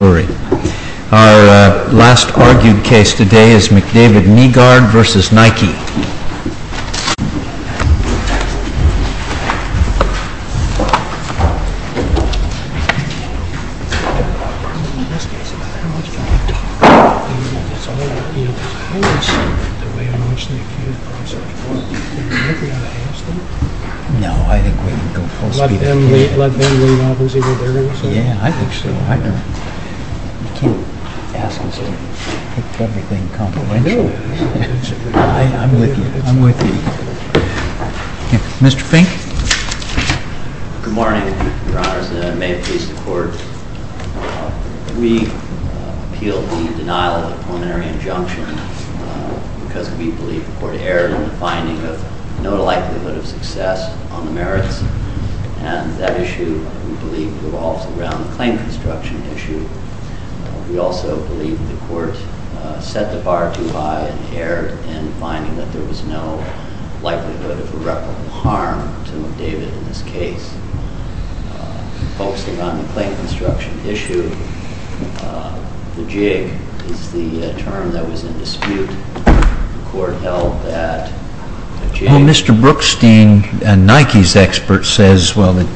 Our last argued case today is MCDAVID KNEE GUARD v. NIKE You can't ask us to pick everything confidential. No, I do. I'm with you. I'm with you. Mr. Fink. Good morning, Your Honors, and may it please the Court. We appeal the denial of the plenary injunction because we believe the Court erred in the finding of no likelihood of success on the merits. And that issue, we believe, revolves around the claim construction issue. We also believe the Court set the bar too high and erred in finding that there was no likelihood of irreparable harm to McDavid in this case. Focusing on the claim construction issue, the jig is the term that was in dispute. The Court held that the jig... Well, Mr. Brookstein, a Nikes expert, says that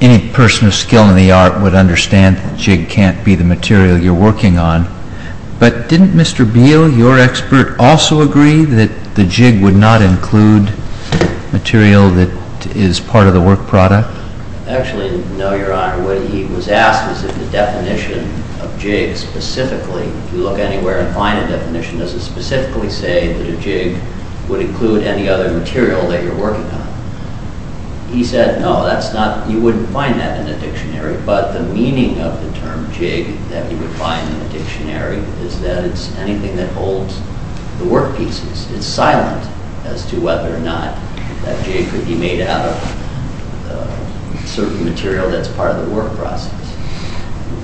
any person of skill in the art would understand that the jig can't be the material you're working on. But didn't Mr. Beal, your expert, also agree that the jig would not include material that is part of the work product? Actually, no, Your Honor. What he was asked was if the definition of jig specifically... If you look anywhere and find a definition, does it specifically say that a jig would include any other material that you're working on? He said, no, that's not... You wouldn't find that in a dictionary. But the meaning of the term jig that you would find in a dictionary is that it's anything that holds the work pieces. It's silent as to whether or not that jig could be made out of certain material that's part of the work process.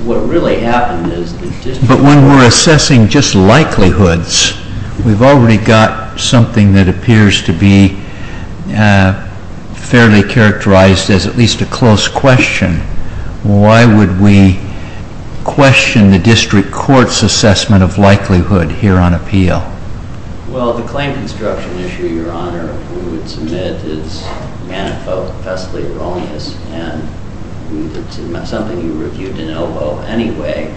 What really happened is... But when we're assessing just likelihoods, we've already got something that appears to be fairly characterized as at least a close question. Why would we question the District Court's assessment of likelihood here on appeal? Well, the claim construction issue, Your Honor, we would submit is manifestly erroneous. And it's something you reviewed in OVO anyway.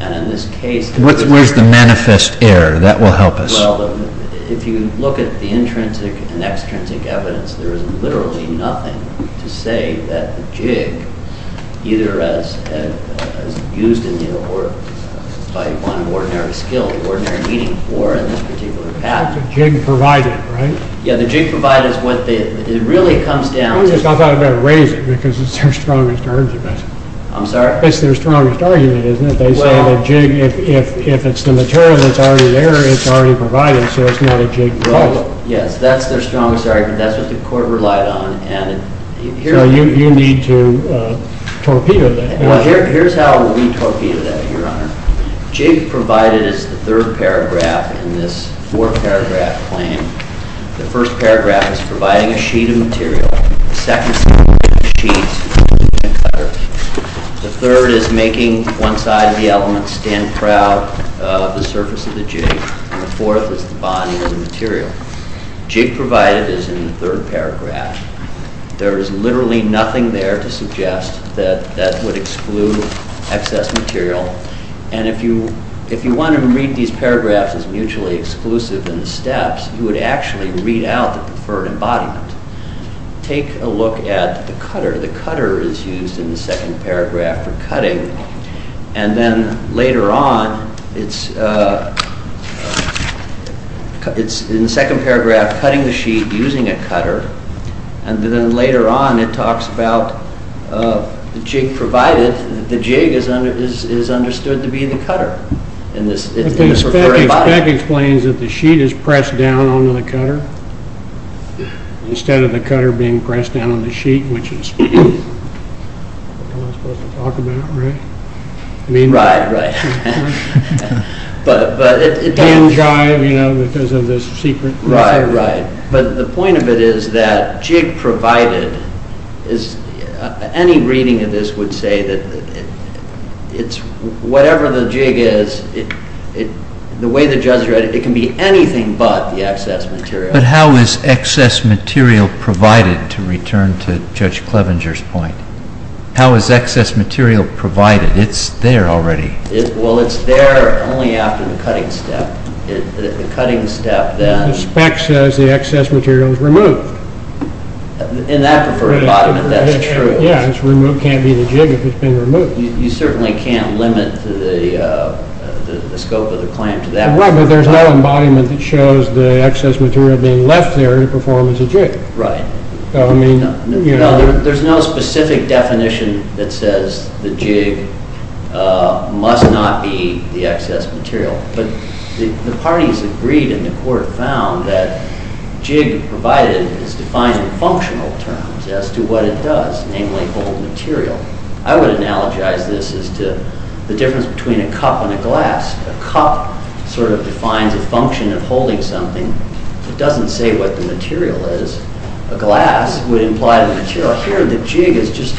And in this case... Where's the manifest error? That will help us. Well, if you look at the intrinsic and extrinsic evidence, there is literally nothing to say that the jig, either as used in the court by one ordinary skill, ordinary needing for in this particular patent... The jig provided, right? Yeah, the jig provided is what the... It really comes down to... I thought I'd better raise it because it's their strongest argument. I'm sorry? It's their strongest argument, isn't it? They say the jig, if it's the material that's already there, it's already provided, so it's not a jig. Well, yes, that's their strongest argument. That's what the court relied on and... So you need to torpedo that. Well, here's how we torpedo that, Your Honor. Jig provided is the third paragraph in this four-paragraph claim. The first paragraph is providing a sheet of material. The second is providing a sheet and a cutter. The third is making one side of the element stand proud of the surface of the jig. And the fourth is the bonding of the material. Jig provided is in the third paragraph. There is literally nothing there to suggest that that would exclude excess material. And if you wanted to read these paragraphs as mutually exclusive in the steps, you would actually read out the preferred embodiment. Take a look at the cutter. The cutter is used in the second paragraph for cutting. And then later on, it's in the second paragraph, cutting the sheet using a cutter. And then later on, it talks about the jig provided. The jig is understood to be the cutter. It's the preferred embodiment. That explains that the sheet is pressed down onto the cutter instead of the cutter being pressed down on the sheet, which is what I'm supposed to talk about, right? Right, right. But it doesn't drive, you know, because of the secret. Right, right. But the point of it is that jig provided is, any reading of this would say that it's whatever the jig is, the way the judge read it, it can be anything but the excess material. But how is excess material provided, to return to Judge Clevenger's point? How is excess material provided? It's there already. Well, it's there only after the cutting step. The cutting step then. The spec says the excess material is removed. In that preferred embodiment, that's true. Yeah, it's removed. It can't be the jig if it's been removed. You certainly can't limit the scope of the claim to that. Right, but there's no embodiment that shows the excess material being left there to perform as a jig. Right. There's no specific definition that says the jig must not be the excess material. But the parties agreed and the court found that jig provided is defined in functional terms as to what it does, namely hold material. I would analogize this as to the difference between a cup and a glass. A cup sort of defines a function of holding something. It doesn't say what the material is. A glass would imply the material. Here, the jig is just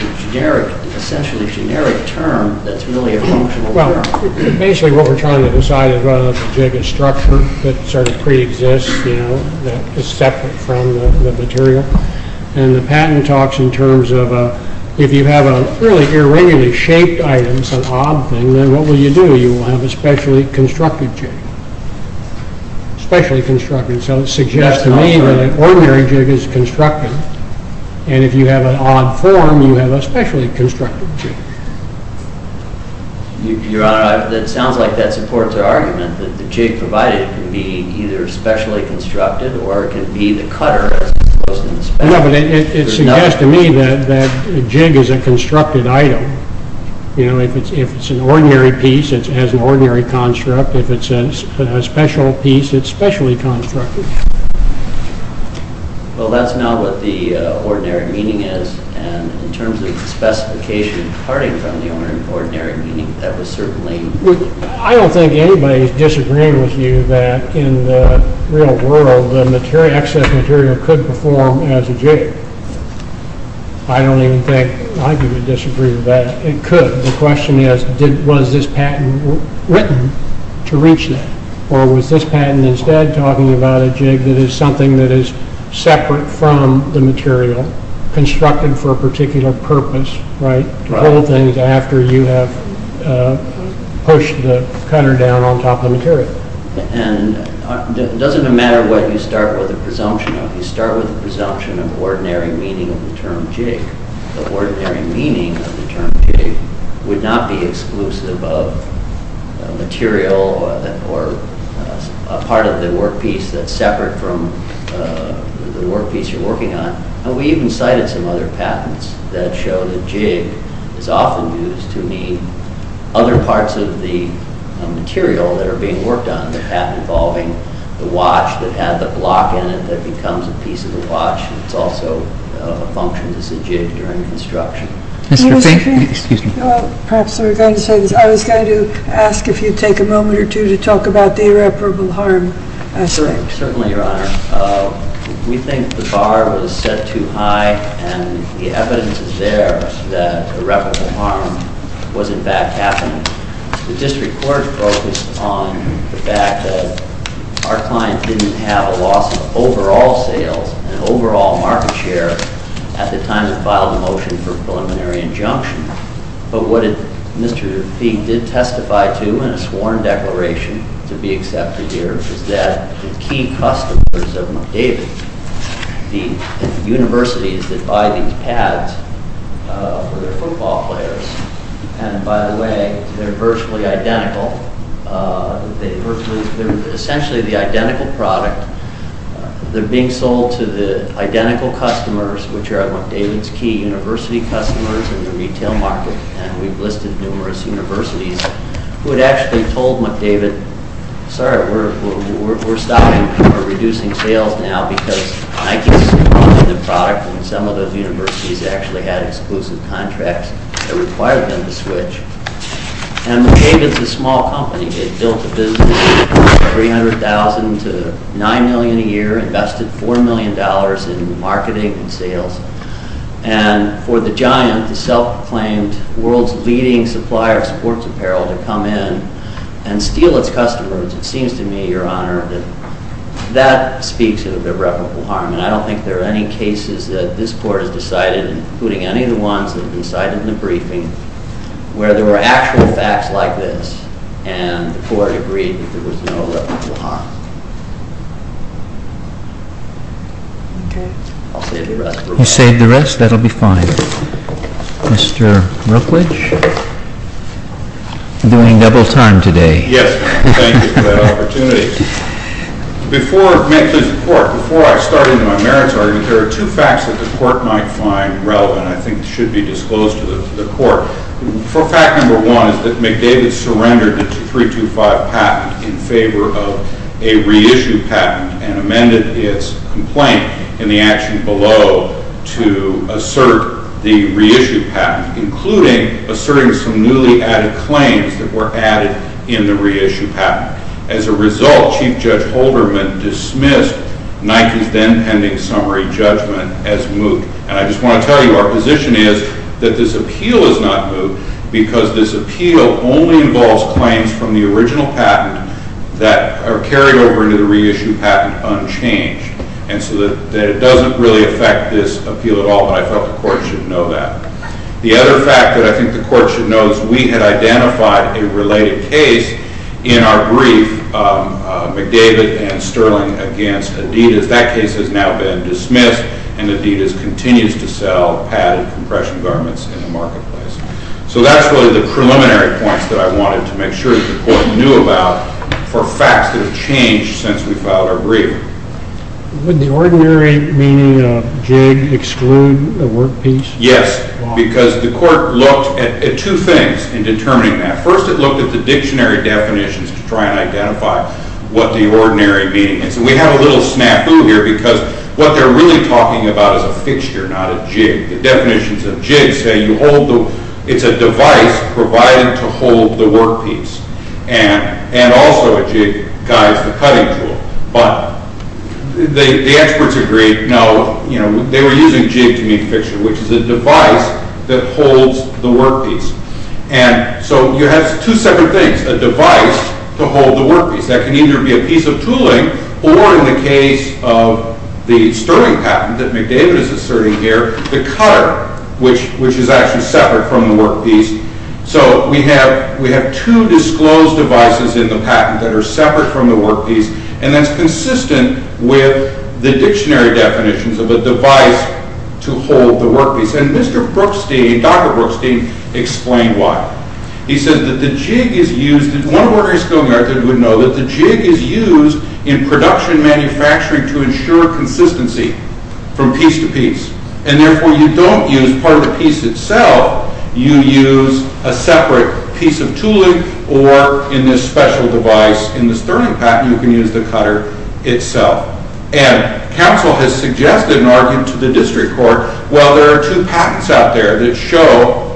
essentially a generic term that's really a functional term. Well, basically what we're trying to decide is whether the jig is structure that sort of pre-exists, that is separate from the material. And the patent talks in terms of if you have a really irregularly shaped item, some odd thing, then what will you do? You will have a specially constructed jig, specially constructed. So it suggests to me that an ordinary jig is constructed. And if you have an odd form, you have a specially constructed jig. Your Honor, it sounds like that supports our argument that the jig provided can be either specially constructed or it can be the cutter as opposed to the spacer. No, but it suggests to me that the jig is a constructed item. You know, if it's an ordinary piece, it has an ordinary construct. If it's a special piece, it's specially constructed. Well, that's not what the ordinary meaning is. And in terms of the specification, parting from the ordinary meaning, that was certainly... I don't think anybody is disagreeing with you that in the real world, the excess material could perform as a jig. I don't even think I could disagree with that. It could. The question is, was this patent written to reach that? Or was this patent instead talking about a jig that is something that is separate from the material, constructed for a particular purpose, right? Other things after you have pushed the cutter down on top of the material. And it doesn't matter what you start with a presumption of. You start with a presumption of ordinary meaning of the term jig. The ordinary meaning of the term jig would not be exclusive of material or a part of the workpiece that's separate from the workpiece you're working on. We even cited some other patents that show that jig is often used to mean other parts of the material that are being worked on. The patent involving the watch that had the block in it that becomes a piece of the watch. It's also functioned as a jig during construction. Mr. Fink? Excuse me. Perhaps we're going to say this. I was going to ask if you'd take a moment or two to talk about the irreparable harm aspect. Certainly, Your Honor. We think the bar was set too high and the evidence is there that irreparable harm was, in fact, happening. The district court focused on the fact that our client didn't have a loss of overall sales and overall market share at the time it filed the motion for preliminary injunction. But what Mr. Fink did testify to in a sworn declaration to be accepted here is that the key customers of McDavid, the universities that buy these pads for their football players, and, by the way, they're virtually identical. They're essentially the identical product. They're being sold to the identical customers, which are McDavid's key university customers in the retail market. And we've listed numerous universities who had actually told McDavid, sorry, we're stopping. We're reducing sales now because I can see the product and some of those universities actually had exclusive contracts that required them to switch. And McDavid's a small company. It built a business of $300,000 to $9 million a year, invested $4 million in marketing and sales. And for the giant, the self-proclaimed world's leading supplier of sports apparel to come in and steal its customers, it seems to me, Your Honor, that that speaks of irreparable harm. And I don't think there are any cases that this court has decided, including any of the ones that have been cited in the briefing, where there were actual facts like this and the court agreed that there was no irreparable harm. Okay. I'll save the rest. You'll save the rest? That'll be fine. Mr. Rookwich, you're doing double time today. Yes, thank you for that opportunity. Before I start into my merits argument, there are two facts that the court might find relevant, I think should be disclosed to the court. Fact number one is that McDavid surrendered its 325 patent in favor of a reissued patent and amended its complaint in the action below to assert the reissued patent, including asserting some newly added claims that were added in the reissued patent. As a result, Chief Judge Holderman dismissed Nike's then-pending summary judgment as moot. And I just want to tell you our position is that this appeal is not moot because this appeal only involves claims from the original patent that are carried over into the reissued patent unchanged. And so it doesn't really affect this appeal at all, but I felt the court should know that. The other fact that I think the court should know is we had identified a related case in our brief, McDavid and Sterling against Adidas. That case has now been dismissed, and Adidas continues to sell padded compression garments in the marketplace. So that's really the preliminary points that I wanted to make sure that the court knew about for facts that have changed since we filed our brief. Would the ordinary meaning of jig exclude a work piece? Yes, because the court looked at two things in determining that. First, it looked at the dictionary definitions to try and identify what the ordinary meaning is. And we have a little snafu here because what they're really talking about is a fixture, not a jig. The definitions of jig say it's a device provided to hold the work piece. And also a jig guides the cutting tool. But the experts agreed, no, they were using jig to mean fixture, which is a device that holds the work piece. And so you have two separate things, a device to hold the work piece. That can either be a piece of tooling or, in the case of the Sterling patent that McDavid is asserting here, the cutter, which is actually separate from the work piece. So we have two disclosed devices in the patent that are separate from the work piece, and that's consistent with the dictionary definitions of a device to hold the work piece. And Mr. Brookstein, Dr. Brookstein, explained why. He said that the jig is used in production manufacturing to ensure consistency from piece to piece. And therefore, you don't use part of the piece itself. You use a separate piece of tooling or, in this special device, in this Sterling patent, you can use the cutter itself. And counsel has suggested an argument to the district court, well, there are two patents out there that show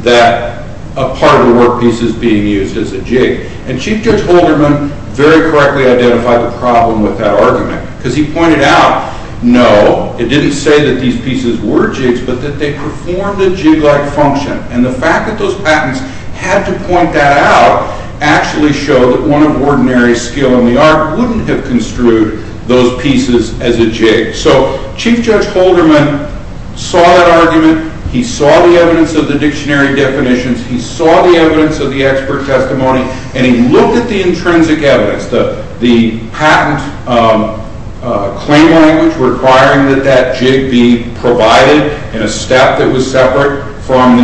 that a part of the work piece is being used as a jig. And Chief Judge Holderman very correctly identified the problem with that argument. Because he pointed out, no, it didn't say that these pieces were jigs, but that they performed a jig-like function. And the fact that those patents had to point that out actually showed that one of ordinary skill in the art wouldn't have construed those pieces as a jig. So Chief Judge Holderman saw that argument, he saw the evidence of the dictionary definitions, he saw the evidence of the expert testimony, and he looked at the intrinsic evidence, the patent claim language requiring that that jig be provided in a step that was separate from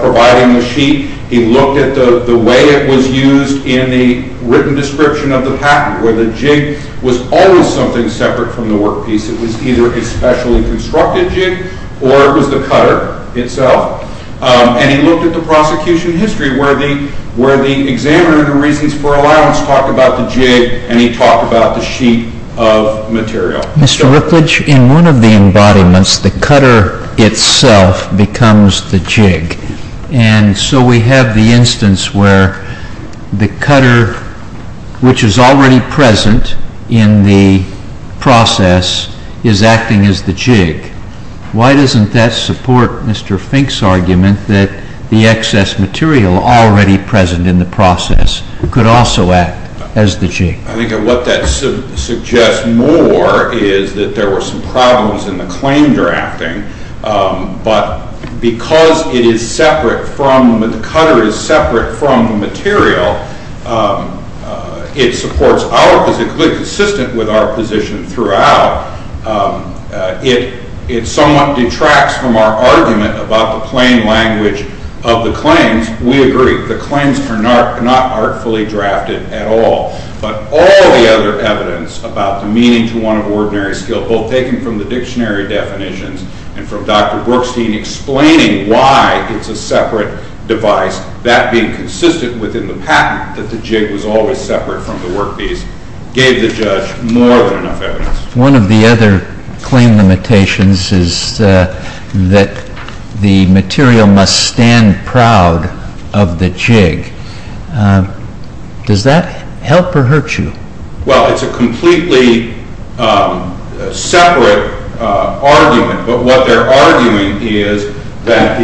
providing the sheet. He looked at the way it was used in the written description of the patent, where the jig was always something separate from the work piece. It was either a specially constructed jig or it was the cutter itself. And he looked at the prosecution history where the examiner in the reasons for allowance talked about the jig and he talked about the sheet of material. Mr. Rickledge, in one of the embodiments, the cutter itself becomes the jig. And so we have the instance where the cutter, which is already present in the process, is acting as the jig. Why doesn't that support Mr. Fink's argument that the excess material already present in the process could also act as the jig? I think what that suggests more is that there were some problems in the claim you're acting, but because it is separate from, the cutter is separate from the material, it supports our position, consistent with our position throughout. It somewhat detracts from our argument about the plain language of the claims. We agree, the claims are not artfully drafted at all. But all the other evidence about the meaning to one of ordinary skill, both taken from the dictionary definitions and from Dr. Brookstein explaining why it's a separate device, that being consistent within the patent that the jig was always separate from the work piece, gave the judge more than enough evidence. One of the other claim limitations is that the material must stand proud of the jig. Does that help or hurt you? Well, it's a completely separate argument. But what they're arguing is that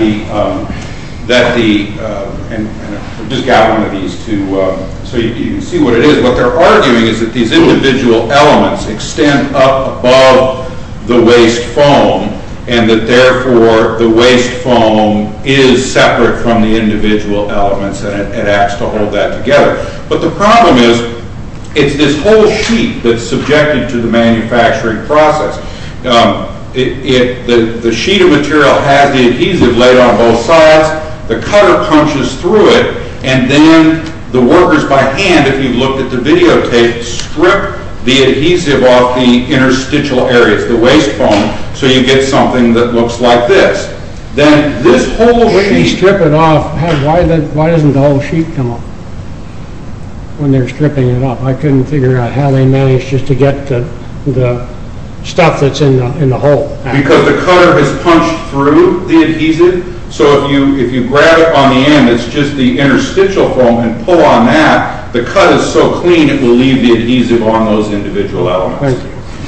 these individual elements extend up above the waste foam, and that therefore the waste foam is separate from the individual elements, and it acts to hold that together. But the problem is, it's this whole sheet that's subjected to the manufacturing process. The sheet of material has the adhesive laid on both sides, the cutter punches through it, and then the workers by hand, if you look at the video tape, strip the adhesive off the interstitial areas, the waste foam, so you get something that looks like this. If you strip it off, why doesn't the whole sheet come off when they're stripping it off? I couldn't figure out how they managed just to get the stuff that's in the hole out. Because the cutter has punched through the adhesive, so if you grab it on the end, it's just the interstitial foam, and pull on that, the cut is so clean it will leave the adhesive on those individual elements.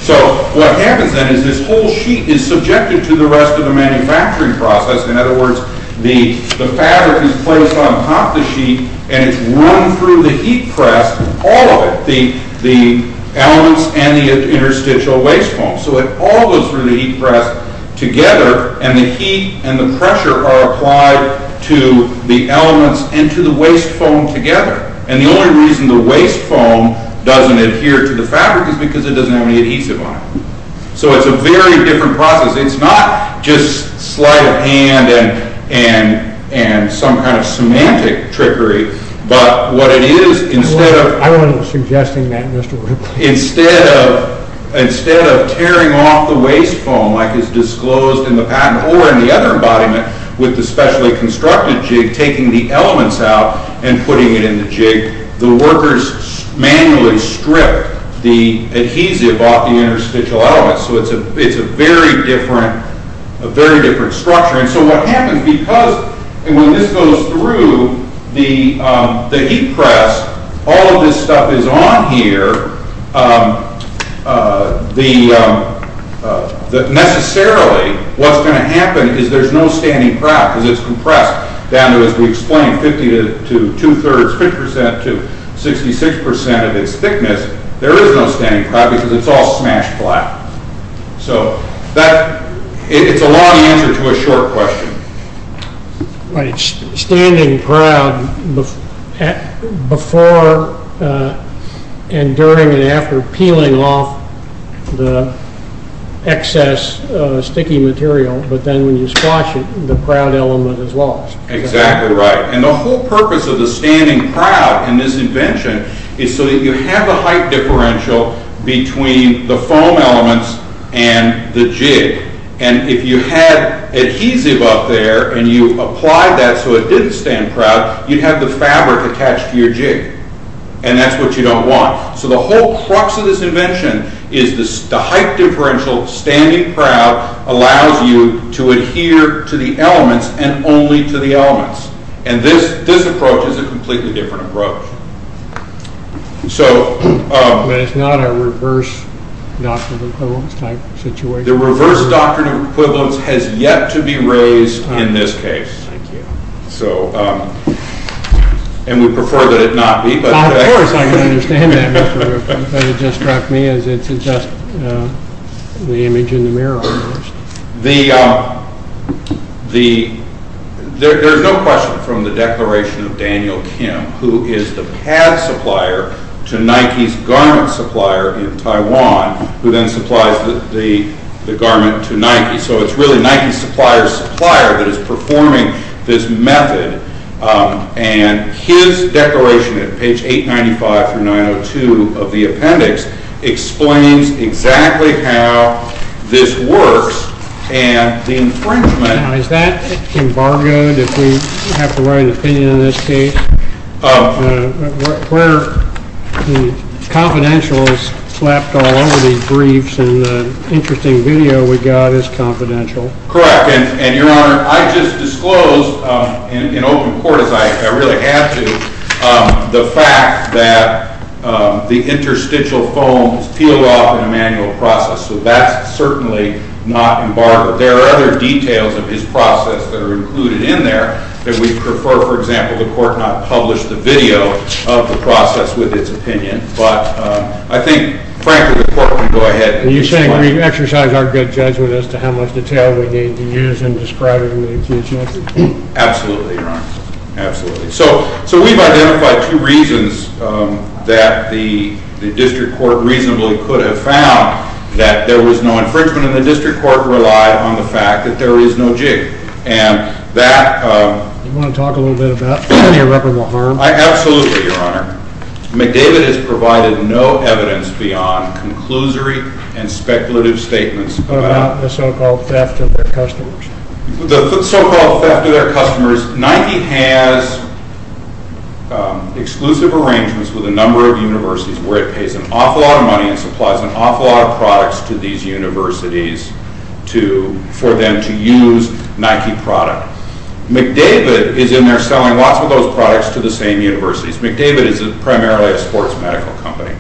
So what happens then is this whole sheet is subjected to the rest of the manufacturing process. In other words, the fabric is placed on top of the sheet, and it's run through the heat press, all of it, the elements and the interstitial waste foam. So it all goes through the heat press together, and the heat and the pressure are applied to the elements and to the waste foam together. The only reason the waste foam doesn't adhere to the fabric is because it doesn't have any adhesive on it. So it's a very different process. It's not just slight of hand and some kind of semantic trickery, but what it is, instead of... I wasn't suggesting that, Mr. Ripley. Instead of tearing off the waste foam like is disclosed in the patent, or in the other embodiment with the specially constructed jig, taking the elements out and putting it in the jig, the workers manually stripped the adhesive off the interstitial elements. So it's a very different structure. And so what happens, because when this goes through the heat press, all of this stuff is on here, necessarily what's going to happen is there's no standing craft because it's compressed down to, as we explained, 50 to 2 thirds, 50% to 66% of its thickness. There is no standing craft because it's all smashed flat. So it's a long answer to a short question. Right. Standing craft before and during and after peeling off the excess sticky material, but then when you squash it, the proud element is lost. Exactly right. And the whole purpose of the standing proud in this invention is so that you have a height differential between the foam elements and the jig. And if you had adhesive up there and you applied that so it didn't stand proud, you'd have the fabric attached to your jig. And that's what you don't want. So the whole crux of this invention is the height differential, standing proud allows you to adhere to the elements and only to the elements. And this approach is a completely different approach. But it's not a reverse doctrine of equivalence type situation. The reverse doctrine of equivalence has yet to be raised in this case. Thank you. And we prefer that it not be. Of course, I can understand that, Mr. Roof. But it just struck me as it's just the image in the mirror. There's no question from the declaration of Daniel Kim, who is the pad supplier to Nike's garment supplier in Taiwan, who then supplies the garment to Nike. So it's really Nike's supplier's supplier that is performing this method. And his declaration at page 895 through 902 of the appendix explains exactly how this works and the infringement. Now, is that embargoed if we have to write an opinion in this case? Where the confidential is slapped all over these briefs and the interesting video we got is confidential. Correct. And, Your Honor, I just disclosed in open court, as I really had to, the fact that the interstitial foams peel off in a manual process. So that's certainly not embargoed. There are other details of his process that are included in there that we prefer, for example, the court not publish the video of the process with its opinion. But I think, frankly, the court can go ahead. And you're saying we've exercised our good judgment as to how much detail we need to use in describing the accused method? Absolutely, Your Honor. Absolutely. So we've identified two reasons that the district court reasonably could have found that there was no infringement. And the district court relied on the fact that there is no jig. And that... Do you want to talk a little bit about any irreparable harm? Absolutely, Your Honor. McDavid has provided no evidence beyond conclusory and speculative statements about... About the so-called theft of their customers. The so-called theft of their customers. Nike has exclusive arrangements with a number of universities where it pays an awful lot of money and supplies an awful lot of products to these universities for them to use Nike product. McDavid is in there selling lots of those products to the same universities. McDavid is primarily a sports medical company.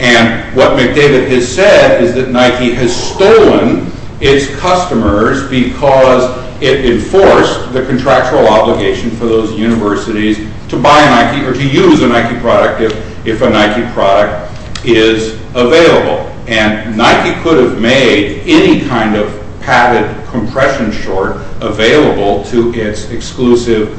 And what McDavid has said is that Nike has stolen its customers because it enforced the contractual obligation for those universities to buy Nike or to use a Nike product if a Nike product is available. And Nike could have made any kind of padded compression short available to its exclusive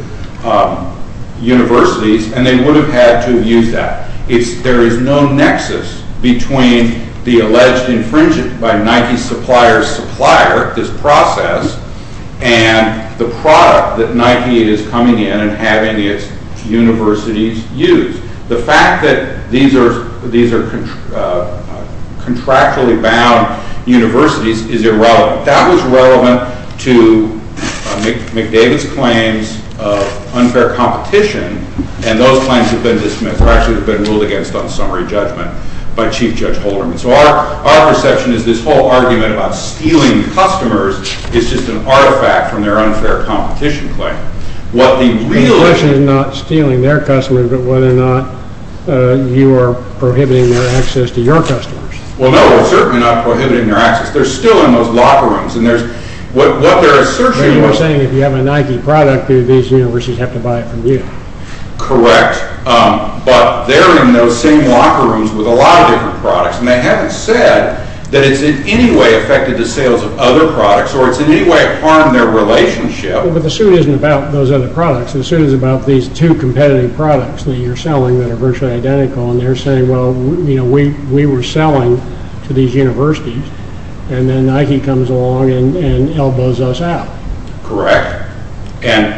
universities. And they would have had to have used that. There is no nexus between the alleged infringement by Nike's supplier's supplier, this process, and the product that Nike is coming in and having its universities use. The fact that these are contractually bound universities is irrelevant. That was relevant to McDavid's claims of unfair competition and those claims have been ruled against on summary judgment by Chief Judge Holderman. So our perception is this whole argument about stealing customers is just an artifact from their unfair competition claim. The question is not stealing their customers, but whether or not you are prohibiting their access to your customers. Well, no, we're certainly not prohibiting their access. They're still in those locker rooms and what they're searching for You're saying if you have a Nike product, these universities have to buy it from you. Correct. But they're in those same locker rooms with a lot of different products and they haven't said that it's in any way affected the sales of other products or it's in any way harmed their relationship. But the suit isn't about those other products. The suit is about these two competitive products that you're selling that are virtually identical and they're saying, well, we were selling to these universities and then Nike comes along and elbows us out. Correct. And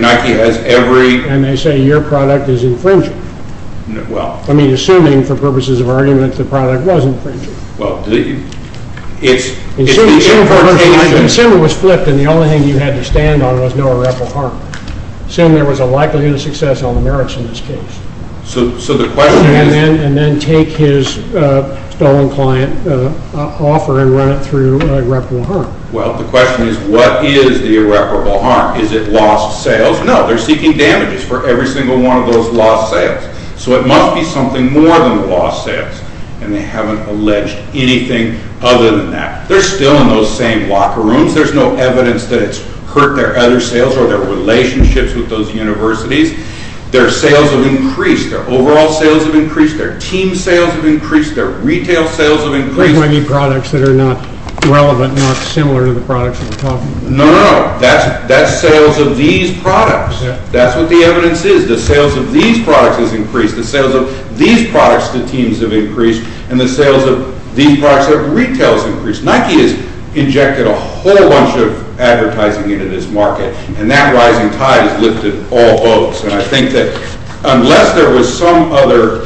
Nike has every... And they say your product is infringing. Well... I mean, assuming, for purposes of argument, the product was infringing. Well, it's... Assuming it was flipped and the only thing you had to stand on was no irreparable harm. Assuming there was a likelihood of success on the merits in this case. So the question is... And then take his stolen client offer and run it through irreparable harm. Well, the question is, what is the irreparable harm? Is it lost sales? No. They're seeking damages for every single one of those lost sales. So it must be something more than lost sales. And they haven't alleged anything other than that. They're still in those same locker rooms. There's no evidence that it's hurt their other sales or their relationships with those universities. Their sales have increased. Their overall sales have increased. Their team sales have increased. Their retail sales have increased. So you might need products that are not relevant, not similar to the products that we're talking about. No, no. That's sales of these products. That's what the evidence is. The sales of these products has increased. The sales of these products to teams have increased. And the sales of these products to retail has increased. Nike has injected a whole bunch of advertising into this market. And that rising tide has lifted all boats. And I think that unless there was some other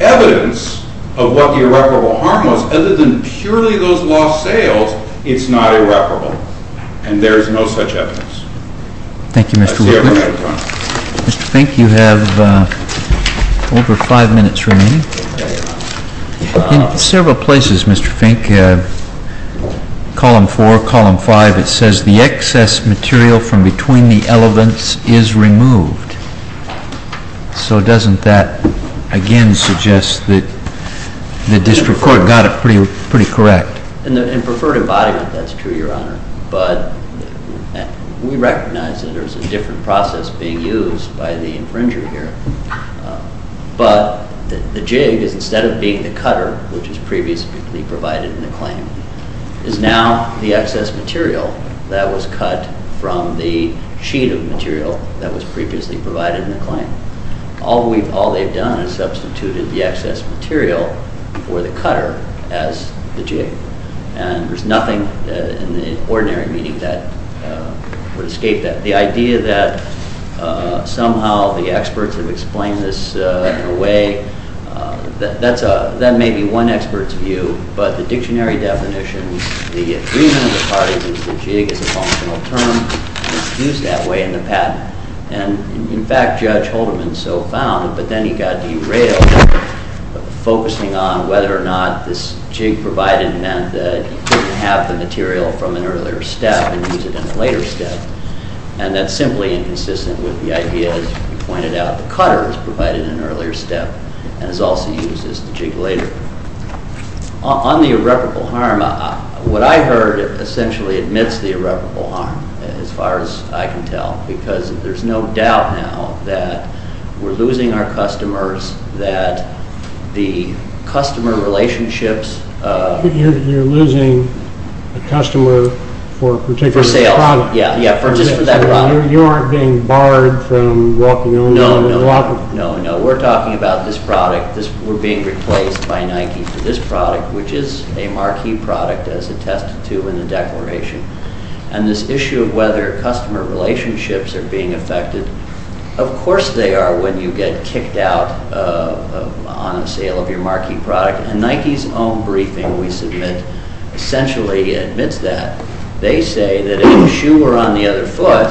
evidence of what the irreparable harm was, other than purely those lost sales, it's not irreparable. And there is no such evidence. Thank you, Mr. Woodward. Mr. Fink, you have over five minutes remaining. In several places, Mr. Fink, column four, column five, it says the excess material from between the elements is removed. So doesn't that, again, suggest that the district court got it pretty correct? In preferred embodiment, that's true, Your Honor. But we recognize that there's a different process being used by the infringer here. But the jig is instead of being the cutter, which is previously provided in the claim, is now the excess material that was cut from the sheet of material that was previously provided in the claim. All they've done is substituted the excess material for the cutter as the jig. And there's nothing in the ordinary meeting that would escape that. The idea that somehow the experts have explained this in a way, that may be one expert's view, but the dictionary definition, the agreement of the parties is the jig is a functional term used that way in the patent. And, in fact, Judge Haldeman so found, but then he got derailed, focusing on whether or not this jig provided meant that he couldn't have the material from an earlier step and use it in a later step. And that's simply inconsistent with the idea, as you pointed out, the cutter is provided in an earlier step and is also used as the jig later. On the irreparable harm, what I heard essentially admits the irreparable harm, as far as I can tell, because there's no doubt now that we're losing our customers, that the customer relationships... You're losing a customer for a particular product. You aren't being barred from walking... No, we're talking about this product. We're being replaced by Nike for this product, which is a Marquis product, as attested to in the declaration. And this issue of whether customer relationships are being affected, of course they are when you get kicked out on a sale of your Marquis product. And Nike's own briefing we submit essentially admits that. They say that if you were on the other foot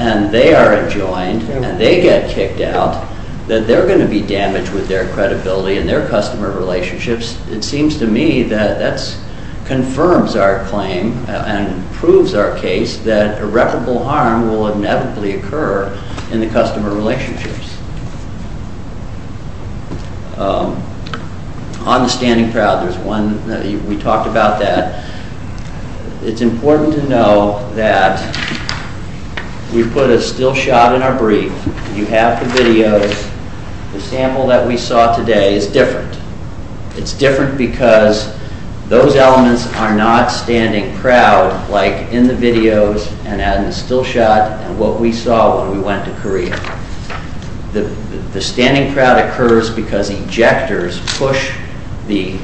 and they are adjoined and they get kicked out, that they're going to be damaged with their credibility and their customer relationships. It seems to me that that confirms our claim and proves our case that irreparable harm will inevitably occur in the customer relationships. On the standing crowd, we talked about that. It's important to know that we put a still shot in our brief. You have the videos. The sample that we saw today is different. It's different because those elements are not standing proud, like in the videos and in the still shot and what we saw when we went to Korea. The standing crowd occurs because injectors push the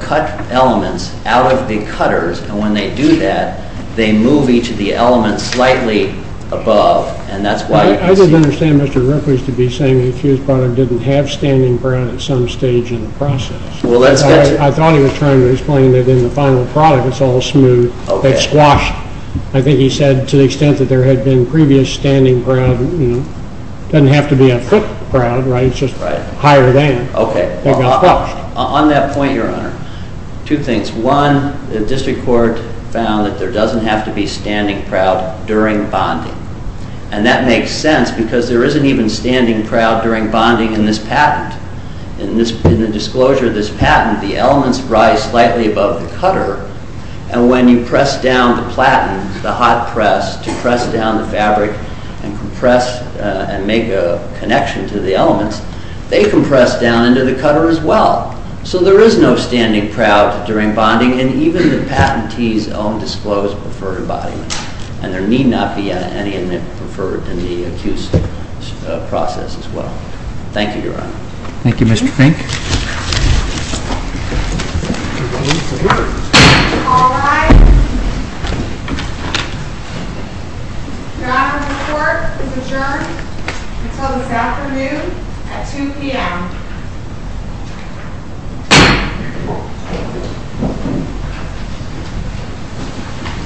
cut elements out of the cutters, and when they do that, they move each of the elements slightly above. I don't understand Mr. Ripley's to be saying that his product didn't have standing proud at some stage in the process. I thought he was trying to explain that in the final product, it's all smooth, it's squashed. I think he said to the extent that there had been previous standing proud, it doesn't have to be a foot crowd, right? It's just higher than. Okay. On that point, Your Honor, two things. One, the district court found that there doesn't have to be standing proud during bonding, and that makes sense because there isn't even standing proud during bonding in this patent. In the disclosure of this patent, the elements rise slightly above the cutter, and when you press down the platen, the hot press to press down the fabric and compress and make a connection to the elements, they compress down into the cutter as well. So there is no standing proud during bonding, and even the patentees own disclosed preferred embodiment, and there need not be any preferred in the accused process as well. Thank you, Your Honor. Thank you, Mr. Fink. All rise. Your Honor, the court is adjourned until this afternoon at 2 p.m.